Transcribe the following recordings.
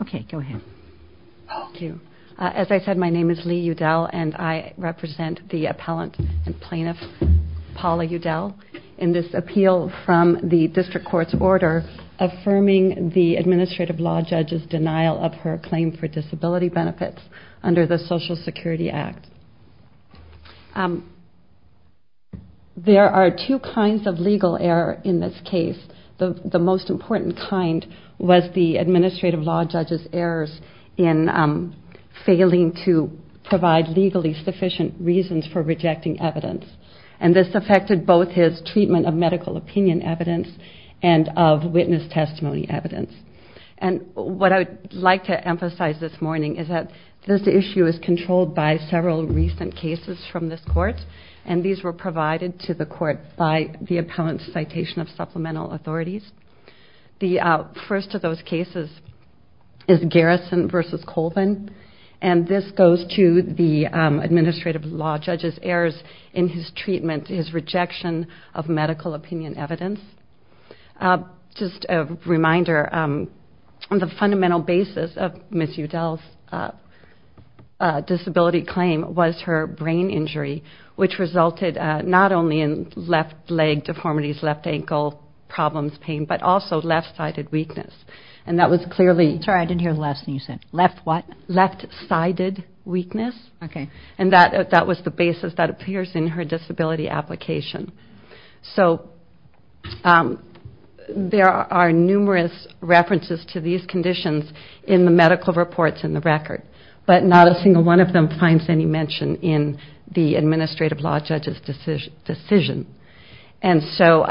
Okay, go ahead. Thank you. As I said, my name is Lee Udell, and I represent the appellant and plaintiff Paula Udell in this appeal from the district court's order affirming the administrative law judge's denial of her claim for disability benefits under the Social Security Act. There are two kinds of legal error in this case. The most important kind was the administrative law judge's errors in failing to provide legally sufficient reasons for rejecting evidence. And this affected both his treatment of medical opinion evidence and of witness testimony evidence. And what I would like to emphasize this morning is that this issue is controlled by several recent cases from this court, and these were provided to the court by the appellant's citation of supplemental authorities. The first of those cases is Garrison v. Colvin, and this goes to the administrative law judge's errors in his treatment, his rejection of medical opinion evidence. Just a reminder, the fundamental basis of Ms. Udell's disability claim was her brain injury, which resulted not only in left leg deformities, left ankle problems, pain, but also left-sided weakness. And that was clearly... Sorry, I didn't hear the last thing you said. Left what? Left-sided weakness. Okay. And that was the basis that appears in her disability application. So there are numerous references to these conditions in the medical reports in the record, but not a single one of them finds any mention in the administrative law judge's decision. And so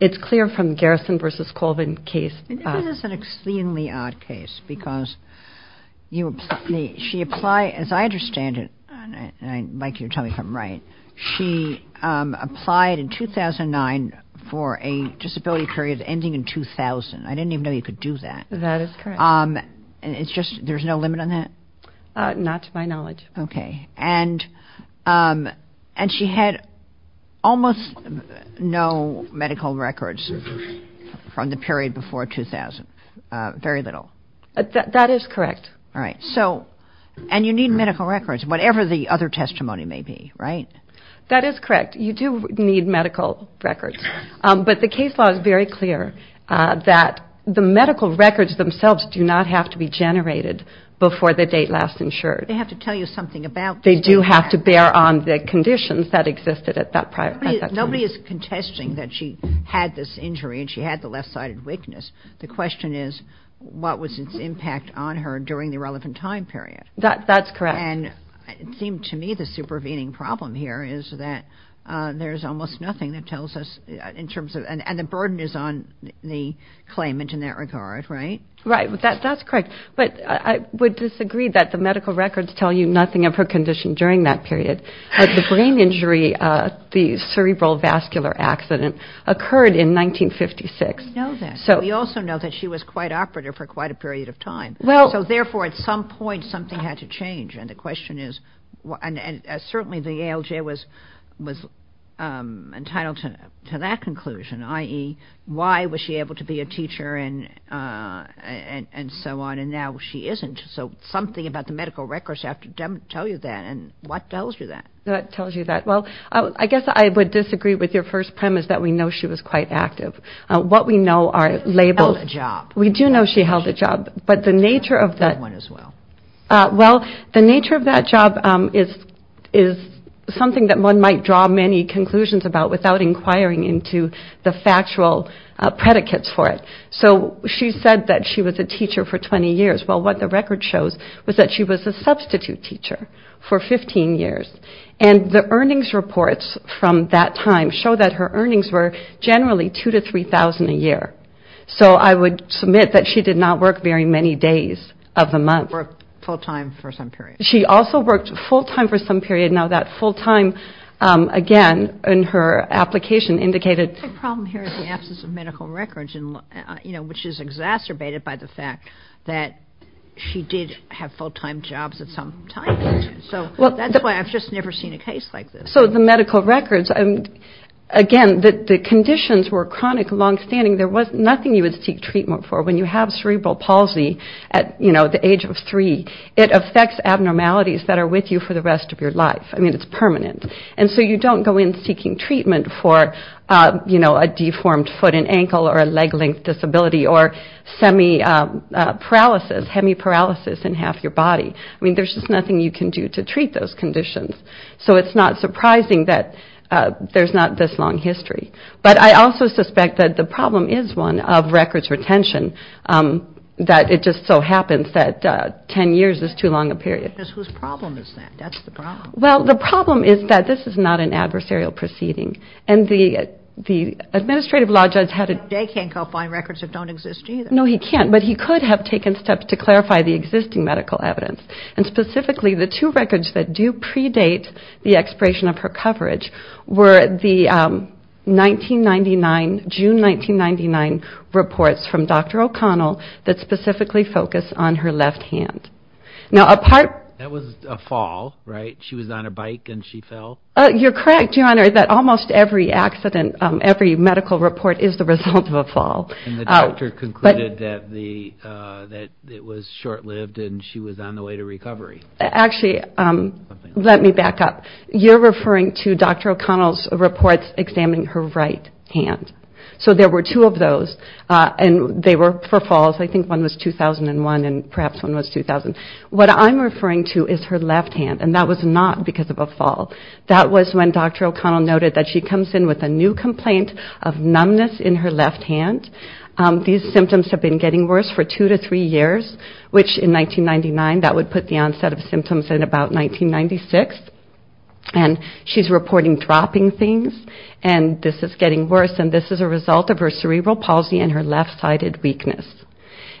it's clear from the Garrison v. Colvin case... This is an exceedingly odd case because she applied, as I understand it, and I'd like you to tell me if I'm right, she applied in 2009 for a disability period ending in 2000. I didn't even know you could do that. That is correct. It's just there's no limit on that? Not to my knowledge. Okay. And she had almost no medical records from the period before 2000, very little. That is correct. And you need medical records, whatever the other testimony may be, right? That is correct. You do need medical records. But the case law is very clear that the medical records themselves do not have to be generated before the date last insured. They have to tell you something about... They do have to bear on the conditions that existed at that time. Nobody is contesting that she had this injury and she had the left-sided weakness. The question is, what was its impact on her during the relevant time period? That's correct. And it seemed to me the supervening problem here is that there's almost nothing that tells us in terms of... And the burden is on the claimant in that regard, right? Right. That's correct. But I would disagree that the medical records tell you nothing of her condition during that period. The brain injury, the cerebral vascular accident, occurred in 1956. We know that. We also know that she was quite operative for quite a period of time. So, therefore, at some point, something had to change. And the question is, and certainly the ALJ was entitled to that conclusion, i.e., why was she able to be a teacher and so on, and now she isn't. So something about the medical records have to tell you that. And what tells you that? What tells you that? Well, I guess I would disagree with your first premise that we know she was quite active. What we know are labels. She held a job. We do know she held a job. But the nature of that... That one as well. Well, the nature of that job is something that one might draw many conclusions about without inquiring into the factual predicates for it. So she said that she was a teacher for 20 years. Well, what the record shows was that she was a substitute teacher for 15 years. And the earnings reports from that time show that her earnings were generally $2,000 to $3,000 a year. So I would submit that she did not work very many days of the month. Worked full-time for some period. She also worked full-time for some period. Now, that full-time, again, in her application indicated... The problem here is the absence of medical records, which is exacerbated by the fact that she did have full-time jobs at some time. So that's why I've just never seen a case like this. So the medical records, again, the conditions were chronic and long-standing. There was nothing you would seek treatment for. When you have cerebral palsy at the age of 3, it affects abnormalities that are with you for the rest of your life. I mean, it's permanent. And so you don't go in seeking treatment for a deformed foot and ankle or a leg-length disability or semi-paralysis, hemiparalysis in half your body. I mean, there's just nothing you can do to treat those conditions. So it's not surprising that there's not this long history. But I also suspect that the problem is one of records retention, that it just so happens that 10 years is too long a period. Whose problem is that? That's the problem. Well, the problem is that this is not an adversarial proceeding. And the administrative law judge had a... Jay can't go find records that don't exist either. No, he can't. But he could have taken steps to clarify the existing medical evidence. And specifically, the two records that do predate the expiration of her coverage were the 1999, June 1999 reports from Dr. O'Connell that specifically focus on her left hand. Now, a part... That was a fall, right? She was on a bike and she fell? You're correct, Your Honor, that almost every accident, every medical report is the result of a fall. And the doctor concluded that it was short-lived and she was on the way to recovery. Actually, let me back up. You're referring to Dr. O'Connell's reports examining her right hand. So there were two of those, and they were for falls. I think one was 2001 and perhaps one was 2000. What I'm referring to is her left hand, and that was not because of a fall. That was when Dr. O'Connell noted that she comes in with a new complaint of numbness in her left hand. These symptoms have been getting worse for two to three years, which in 1999, that would put the onset of symptoms in about 1996. And she's reporting dropping things, and this is getting worse, and this is a result of her cerebral palsy and her left-sided weakness.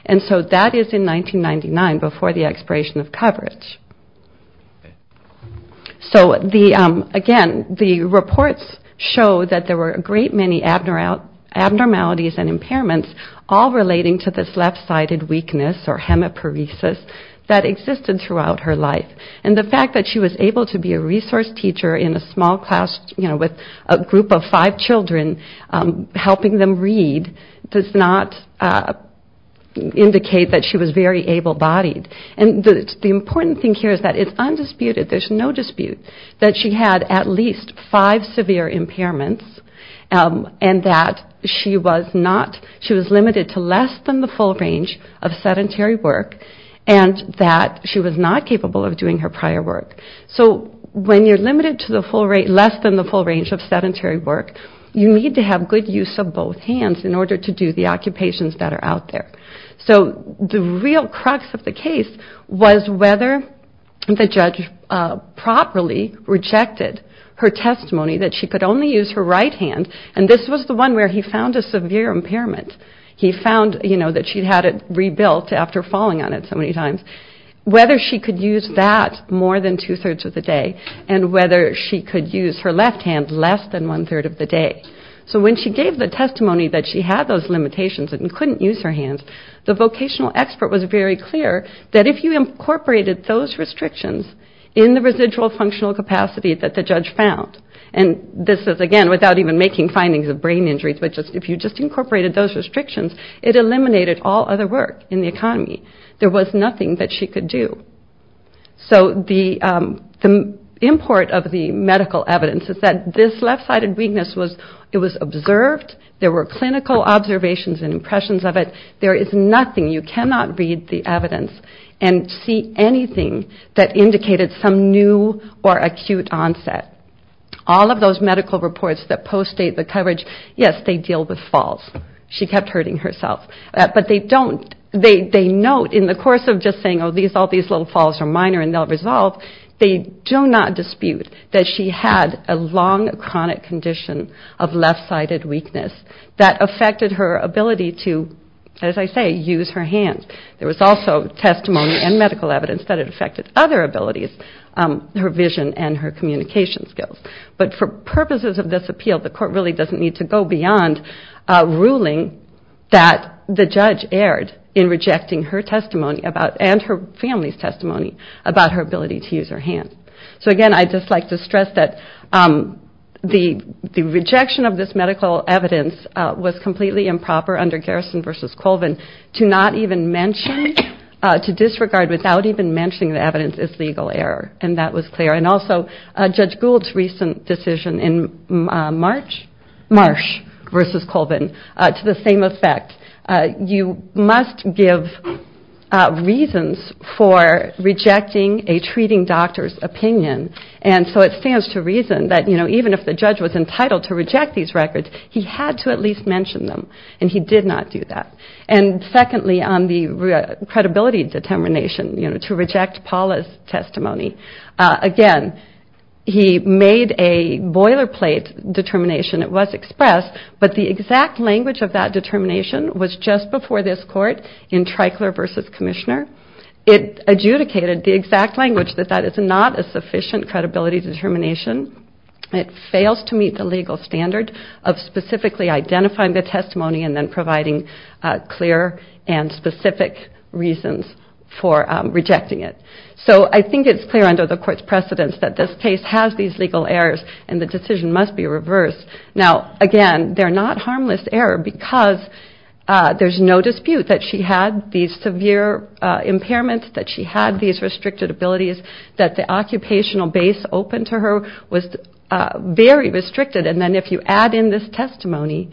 And so that is in 1999, before the expiration of coverage. So, again, the reports show that there were a great many abnormalities and impairments all relating to this left-sided weakness or hemiparesis that existed throughout her life. And the fact that she was able to be a resource teacher in a small class, you know, with a group of five children helping them read does not indicate that she was very able-bodied. And the important thing here is that it's undisputed, there's no dispute, that she had at least five severe impairments and that she was not, she was limited to less than the full range of sedentary work and that she was not capable of doing her prior work. So when you're limited to less than the full range of sedentary work, you need to have good use of both hands in order to do the occupations that are out there. So the real crux of the case was whether the judge properly rejected her testimony that she could only use her right hand, and this was the one where he found a severe impairment. He found, you know, that she had it rebuilt after falling on it so many times, whether she could use that more than two-thirds of the day and whether she could use her left hand less than one-third of the day. So when she gave the testimony that she had those limitations and couldn't use her hands, the vocational expert was very clear that if you incorporated those restrictions in the residual functional capacity that the judge found, and this is again without even making findings of brain injuries, but if you just incorporated those restrictions, it eliminated all other work in the economy. There was nothing that she could do. So the import of the medical evidence is that this left-sided weakness was it was observed, there were clinical observations and impressions of it, there is nothing, you cannot read the evidence and see anything that indicated some new or acute onset. All of those medical reports that post-date the coverage, yes, they deal with falls. She kept hurting herself, but they don't, they note in the course of just saying, oh, all these little falls are minor and they'll resolve, they do not dispute that she had a long chronic condition of left-sided weakness that affected her ability to, as I say, use her hands. There was also testimony and medical evidence that it affected other abilities, her vision and her communication skills. But for purposes of this appeal, the court really doesn't need to go beyond ruling that the judge erred in rejecting her testimony and her family's testimony about her ability to use her hands. So again, I'd just like to stress that the rejection of this medical evidence was completely improper under Garrison v. Colvin to not even mention, to disregard without even mentioning the evidence as legal error, and that was clear. And also Judge Gould's recent decision in Marsh v. Colvin to the same effect. You must give reasons for rejecting a treating doctor's opinion, and so it stands to reason that even if the judge was entitled to reject these records, he had to at least mention them, and he did not do that. And secondly, on the credibility determination, to reject Paula's testimony, again, he made a boilerplate determination. It was expressed, but the exact language of that determination was just before this court in Treichler v. Commissioner. It adjudicated the exact language that that is not a sufficient credibility determination. It fails to meet the legal standard of specifically identifying the testimony and then providing clear and specific reasons for rejecting it. So I think it's clear under the court's precedence that this case has these legal errors and the decision must be reversed. Now, again, they're not harmless error because there's no dispute that she had these severe impairments, that she had these restricted abilities, that the occupational base open to her was very restricted, and then if you add in this testimony,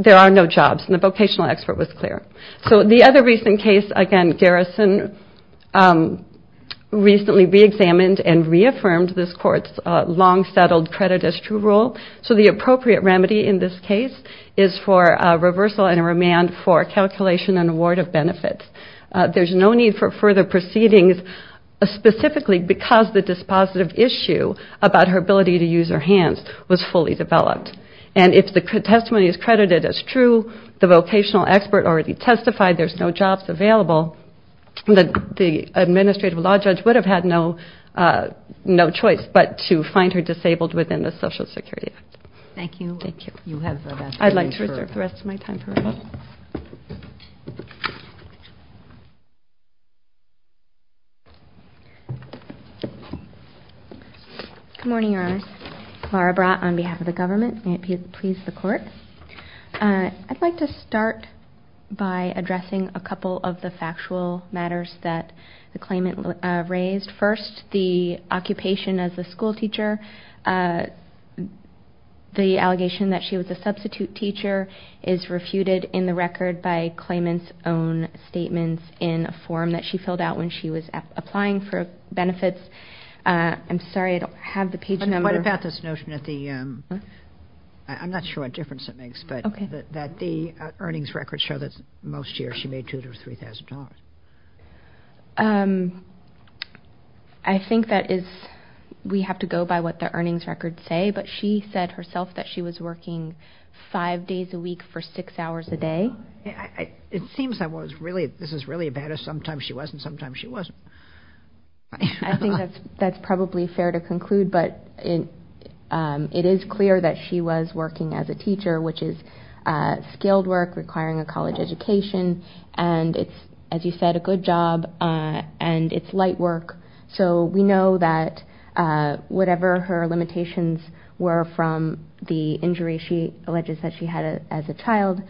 there are no jobs, and the vocational expert was clear. So the other recent case, again, Garrison recently reexamined and reaffirmed this court's long-settled credit as true rule. So the appropriate remedy in this case is for reversal and remand for calculation and award of benefits. There's no need for further proceedings specifically because the dispositive issue about her ability to use her hands was fully developed. And if the testimony is credited as true, the vocational expert already testified there's no jobs available, the administrative law judge would have had no choice but to find her disabled within the Social Security Act. Thank you. I'd like to reserve the rest of my time for questions. Good morning, Your Honor. Clara Brott on behalf of the government. May it please the Court. I'd like to start by addressing a couple of the factual matters that the claimant raised. First, the occupation as a school teacher. The allegation that she was a substitute teacher is refuted in the record by claimant's own statements in a form that she filled out when she was applying for benefits. I'm sorry, I don't have the page number. I'm not sure what difference it makes, but that the earnings records show that most years she made $2,000 or $3,000. I think that is, we have to go by what the earnings records say, but she said herself that she was working five days a week for six hours a day. It seems I was really, this is really a bad, sometimes she was and sometimes she wasn't. I think that's probably fair to conclude, but it is clear that she was working as a teacher, which is skilled work requiring a college education, and it's, as you said, a good job, and it's light work. So we know that whatever her limitations were from the injury she alleges that she had as a child,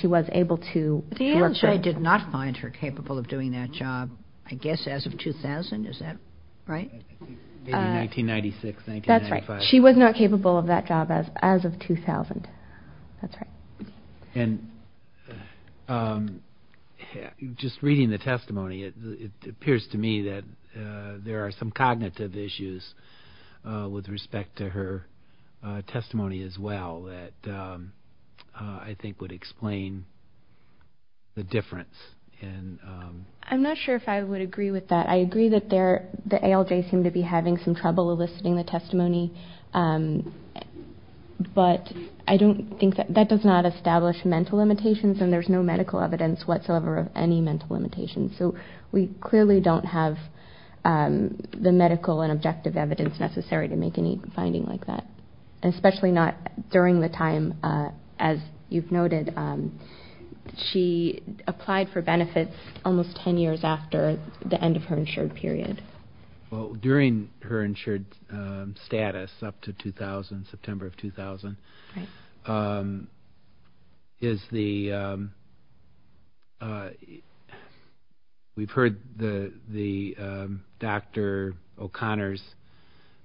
she was able to work there. The answer is I did not find her capable of doing that job, I guess as of 2000, is that right? Maybe 1996, 1995. She was not capable of that job as of 2000, that's right. Just reading the testimony, it appears to me that there are some cognitive issues with respect to her testimony as well that I think would explain the difference. I'm not sure if I would agree with that. But I don't think that, that does not establish mental limitations and there's no medical evidence whatsoever of any mental limitations. So we clearly don't have the medical and objective evidence necessary to make any finding like that. Especially not during the time, as you've noted, she applied for benefits almost 10 years after the end of her insured period. Well, during her insured status up to 2000, September of 2000, we've heard Dr. O'Connor's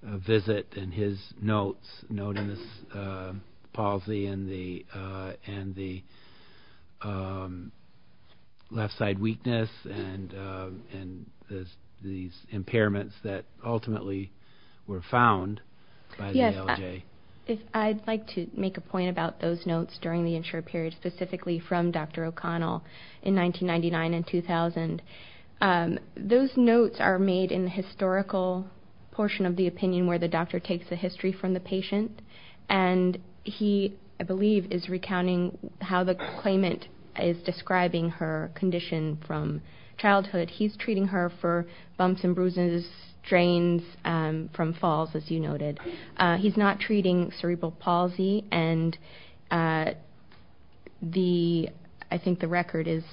visit and his notes, noting this palsy and the left side weakness and these impairments that ultimately were found by the LJ. I'd like to make a point about those notes during the insured period, specifically from Dr. O'Connor in 1999 and 2000. Those notes are made in the historical portion of the opinion where the doctor takes the history from the patient and he, I believe, is recounting how the claimant is describing her condition from childhood. He's treating her for bumps and bruises, strains from falls, as you noted. He's not treating cerebral palsy and I think the record is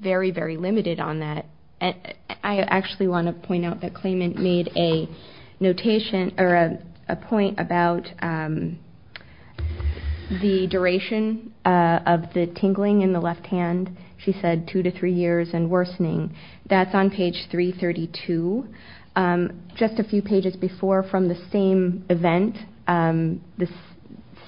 very, very limited on that. I actually want to point out that the claimant made a notation, or a point about the duration of the tingling in the left hand. She said two to three years and worsening. That's on page 332, just a few pages before from the same event, the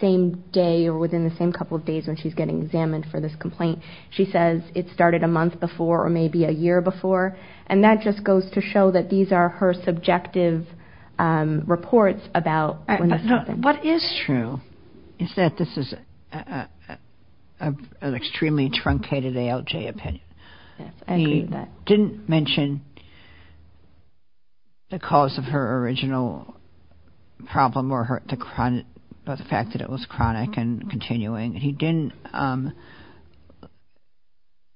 same day or within the same couple of days when she's getting examined for this complaint. She says it started a month before or maybe a year before. That just goes to show that these are her subjective reports about when this happened. What is true is that this is an extremely truncated ALJ opinion. He didn't mention the cause of her original problem or the fact that it was chronic and continuing. He didn't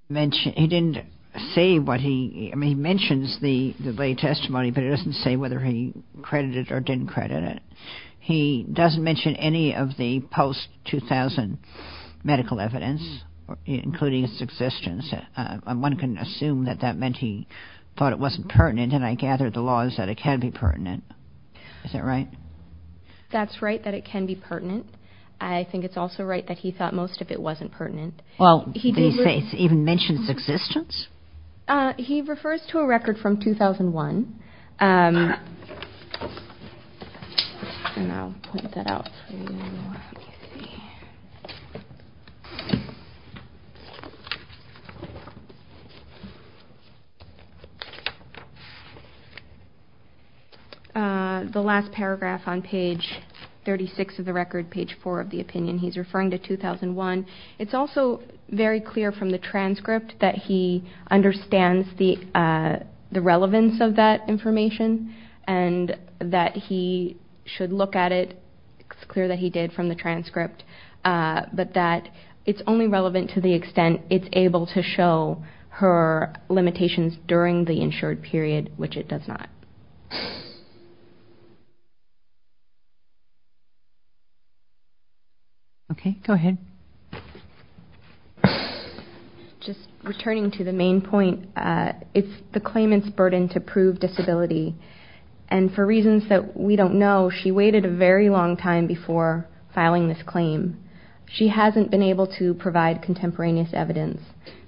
mention, he didn't say what he, I mean he mentions the lay testimony but he doesn't say whether he credited or didn't credit it. He doesn't mention any of the post-2000 medical evidence, including its existence. One can assume that that meant he thought it wasn't pertinent and I gather the law is that it can be pertinent. Is that right? That's right that it can be pertinent. I think it's also right that he thought most of it wasn't pertinent. He even mentions existence? He refers to a record from 2001. I'll point that out for you. The last paragraph on page 36 of the record, page 4 of the opinion, he's referring to 2001. It's also very clear from the transcript that he understands the relevance of that information and that he should look at it. It's clear that he did from the transcript. But that it's only relevant to the extent it's able to show her limitations during the insured period, which it does not. Okay, go ahead. Just returning to the main point, it's the claimant's burden to prove disability and for reasons that we don't know, she waited a very long time before filing this claim. She hasn't been able to provide contemporaneous evidence.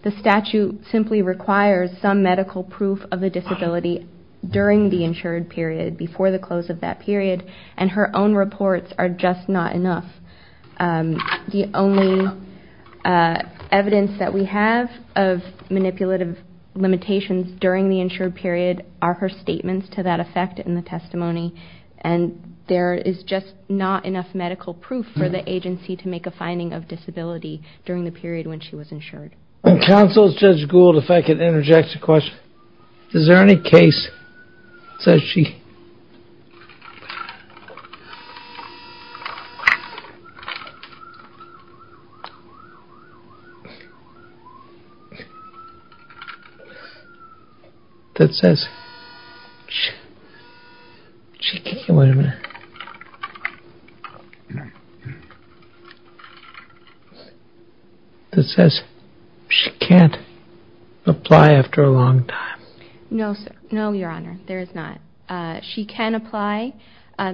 The statute simply requires some medical proof of the disability during the insured period, before the close of that period, and her own reports are just not enough. The only evidence that we have of manipulative limitations during the insured period are her statements to that effect in the testimony, and there is just not enough medical proof for the agency to make a finding of disability during the period when she was insured. Counsel, Judge Gould, if I could interject a question. Is there any case that says she... that says she... that says she can't apply after a long time? No, sir. No, Your Honor, there is not. She can apply.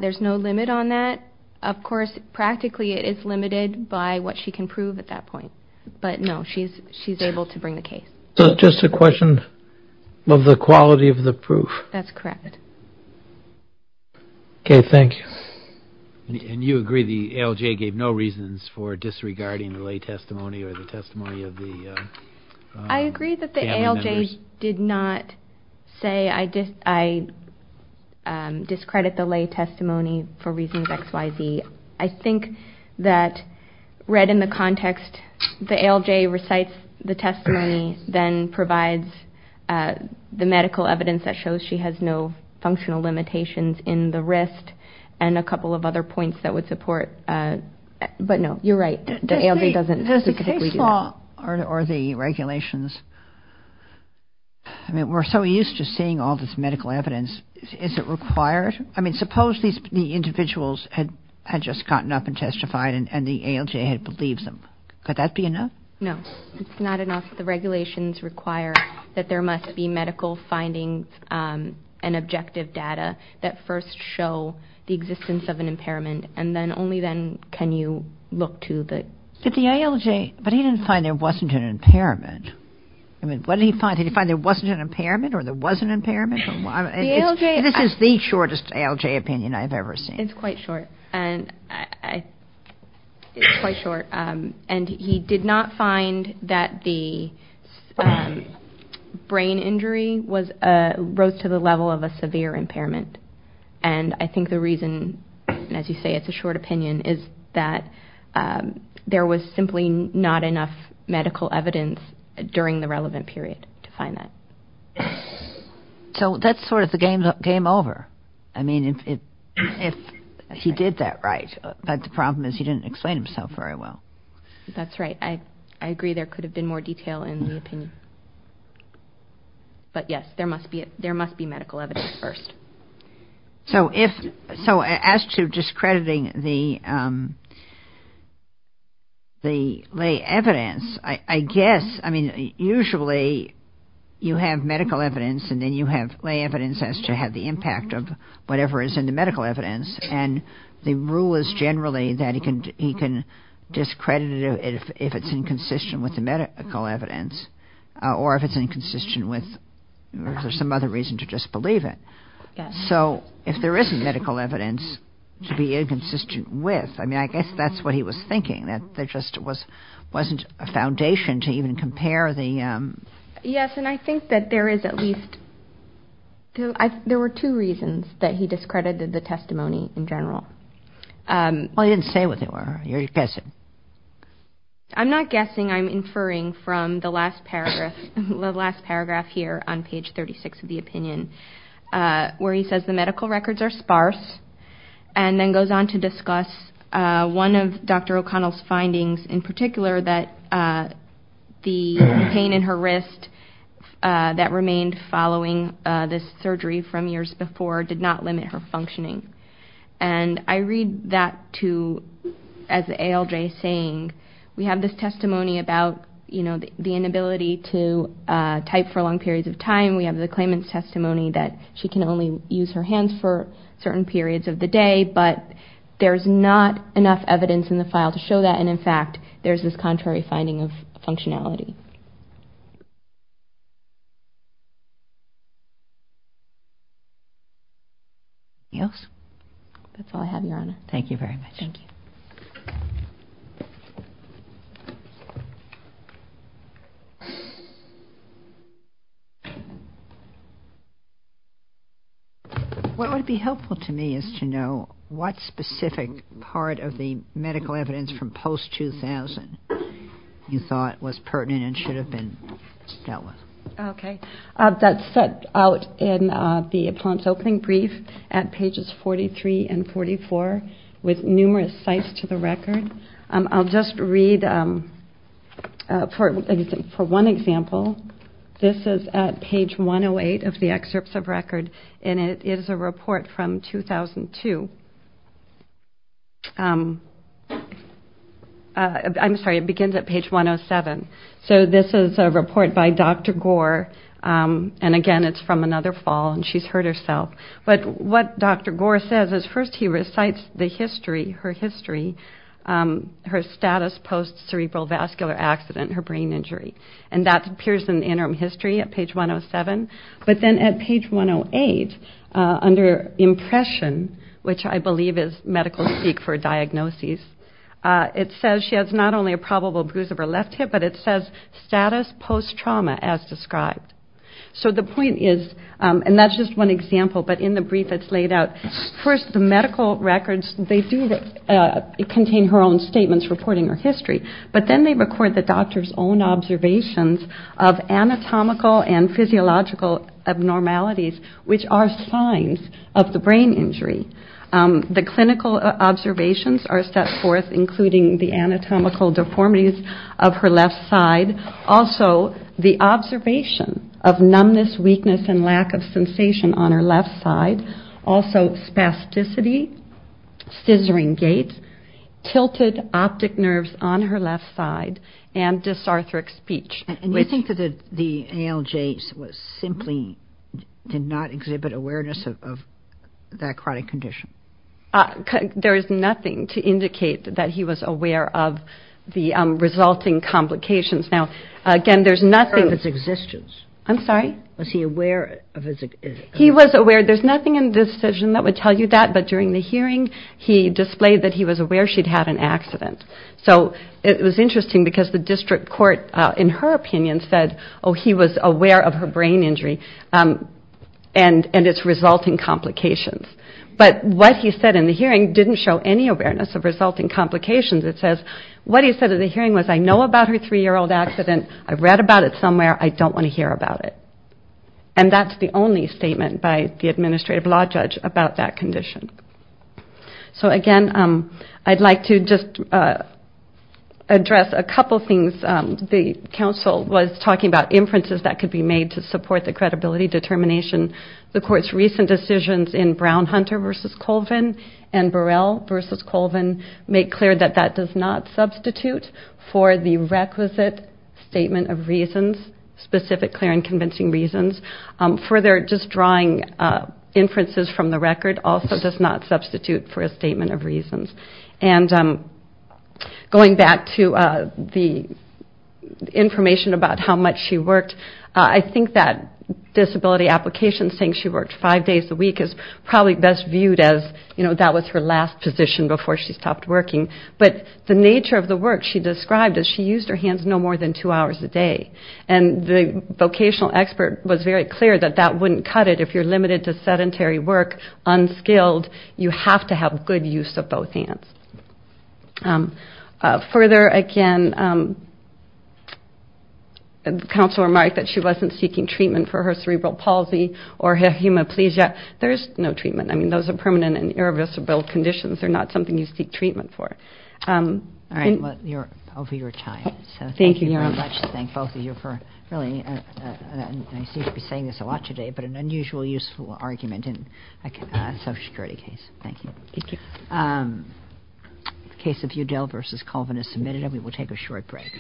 There's no limit on that. Of course, practically it is limited by what she can prove at that point, but no, she's able to bring the case. Just a question of the quality of the proof. That's correct. Okay, thank you. I agree that the ALJ did not say, I discredit the lay testimony for reasons XYZ. I think that read in the context, the ALJ recites the testimony, then provides the medical evidence that shows she has no functional limitations in the wrist, and a couple of other points that would support... But no, you're right, the ALJ doesn't... The case law or the regulations, I mean, we're so used to seeing all this medical evidence, is it required? I mean, suppose the individuals had just gotten up and testified and the ALJ had believed them. Could that be enough? No, it's not enough. The regulations require that there must be medical findings and objective data that first show the existence of an impairment, and then only then can you look to the... But he didn't find there wasn't an impairment. This is the shortest ALJ opinion I've ever seen. It's quite short. And he did not find that the brain injury rose to the level of a severe impairment. And I think the reason, as you say, it's a short opinion, is that there was simply not enough medical evidence during the relevant period to find that. So that's sort of the game over. I mean, if he did that right. But the problem is he didn't explain himself very well. That's right. I agree there could have been more detail in the opinion. But yes, there must be medical evidence first. So as to discrediting the lay evidence, I guess, I mean, usually you have medical evidence and then you have lay evidence as to have the impact of whatever is in the medical evidence. And the rule is generally that he can discredit it if it's inconsistent with the medical evidence or if it's inconsistent with... So if there isn't medical evidence to be inconsistent with, I mean, I guess that's what he was thinking, that there just wasn't a foundation to even compare the... Yes. And I think that there is at least... There were two reasons that he discredited the testimony in general. Well, he didn't say what they were. You're guessing. I'm not guessing. I'm inferring from the last paragraph here on page 36 of the opinion where he says the medical records are sparse and then goes on to discuss one of Dr. O'Connell's findings in particular that the pain in her wrist that remained following this surgery from years before did not limit her functioning. He's saying we have this testimony about the inability to type for long periods of time. We have the claimant's testimony that she can only use her hands for certain periods of the day, but there's not enough evidence in the file to show that. And in fact, there's this contrary finding of functionality. Anything else? That's all I have, Your Honor. Thank you very much. What would be helpful to me is to know what specific part of the medical evidence from post-2000 you thought was pertinent and should have been dealt with. Okay. That's set out in the opponent's opening brief at pages 43 and 44 with numerous sites to the record. I'll just read for one example. This is at page 108 of the excerpts of record, and it is a report from 2002. I'm sorry, it begins at page 107. So this is a report by Dr. Gore, and again, it's from another fall, and she's hurt herself. But what Dr. Gore says is first he recites the history, her history, her status post-cerebral vascular accident, her brain injury. And that appears in the interim history at page 107. But then at page 108, under impression, which I believe is medical speak for diagnosis, it says she has not only a probable bruise of her left hip, but it says status post-trauma as described. So the point is, and that's just one example, but in the brief that's laid out, first the medical records, they do contain her own statements reporting her history. But then they record the doctor's own observations of anatomical and physiological factors and anatomical abnormalities, which are signs of the brain injury. The clinical observations are set forth, including the anatomical deformities of her left side. Also, the observation of numbness, weakness, and lack of sensation on her left side. Also, spasticity, scissoring gait, tilted optic nerves on her left side, and dysarthric speech. And you think that the ALJs simply did not exhibit awareness of that chronic condition? There is nothing to indicate that he was aware of the resulting complications. Now, again, there's nothing. Was he aware of his existence? He was aware. There's nothing in the decision that would tell you that, but during the hearing, he displayed that he was aware she'd had an accident. So it was interesting because the district court, in her opinion, said, oh, he was aware of her brain injury and its resulting complications. But what he said in the hearing didn't show any awareness of resulting complications. It says, what he said in the hearing was, I know about her three-year-old accident. I've read about it somewhere. I don't want to hear about it. And that's the only statement by the administrative law judge about that condition. So, again, I'd like to just address a couple things. The counsel was talking about inferences that could be made to support the credibility determination. The court's recent decisions in Brown-Hunter v. Colvin and Burrell v. Colvin make clear that that does not substitute for the requisite statement of reasons, specific clear and convincing reasons. Further, just drawing inferences from the record also does not substitute for a statement of reasons. And going back to the information about how much she worked, I think that disability application saying she worked five days a week is probably best viewed as that was her last position before she stopped working. But the nature of the work she described is she used her hands no more than two hours a day. And the vocational expert was very clear that that wouldn't cut it. If you're limited to sedentary work, unskilled, you have to have good use of both hands. Further, again, the counsel remarked that she wasn't seeking treatment for her cerebral palsy or hemiplegia. There's no treatment. I mean, those are permanent and irreversible conditions. They're not something you seek treatment for. Thank you very much. Thank both of you for really, and I seem to be saying this a lot today, but an unusual, useful argument in a Social Security case. Thank you. The case of Udell v. Colvin is submitted, and we will take a short break.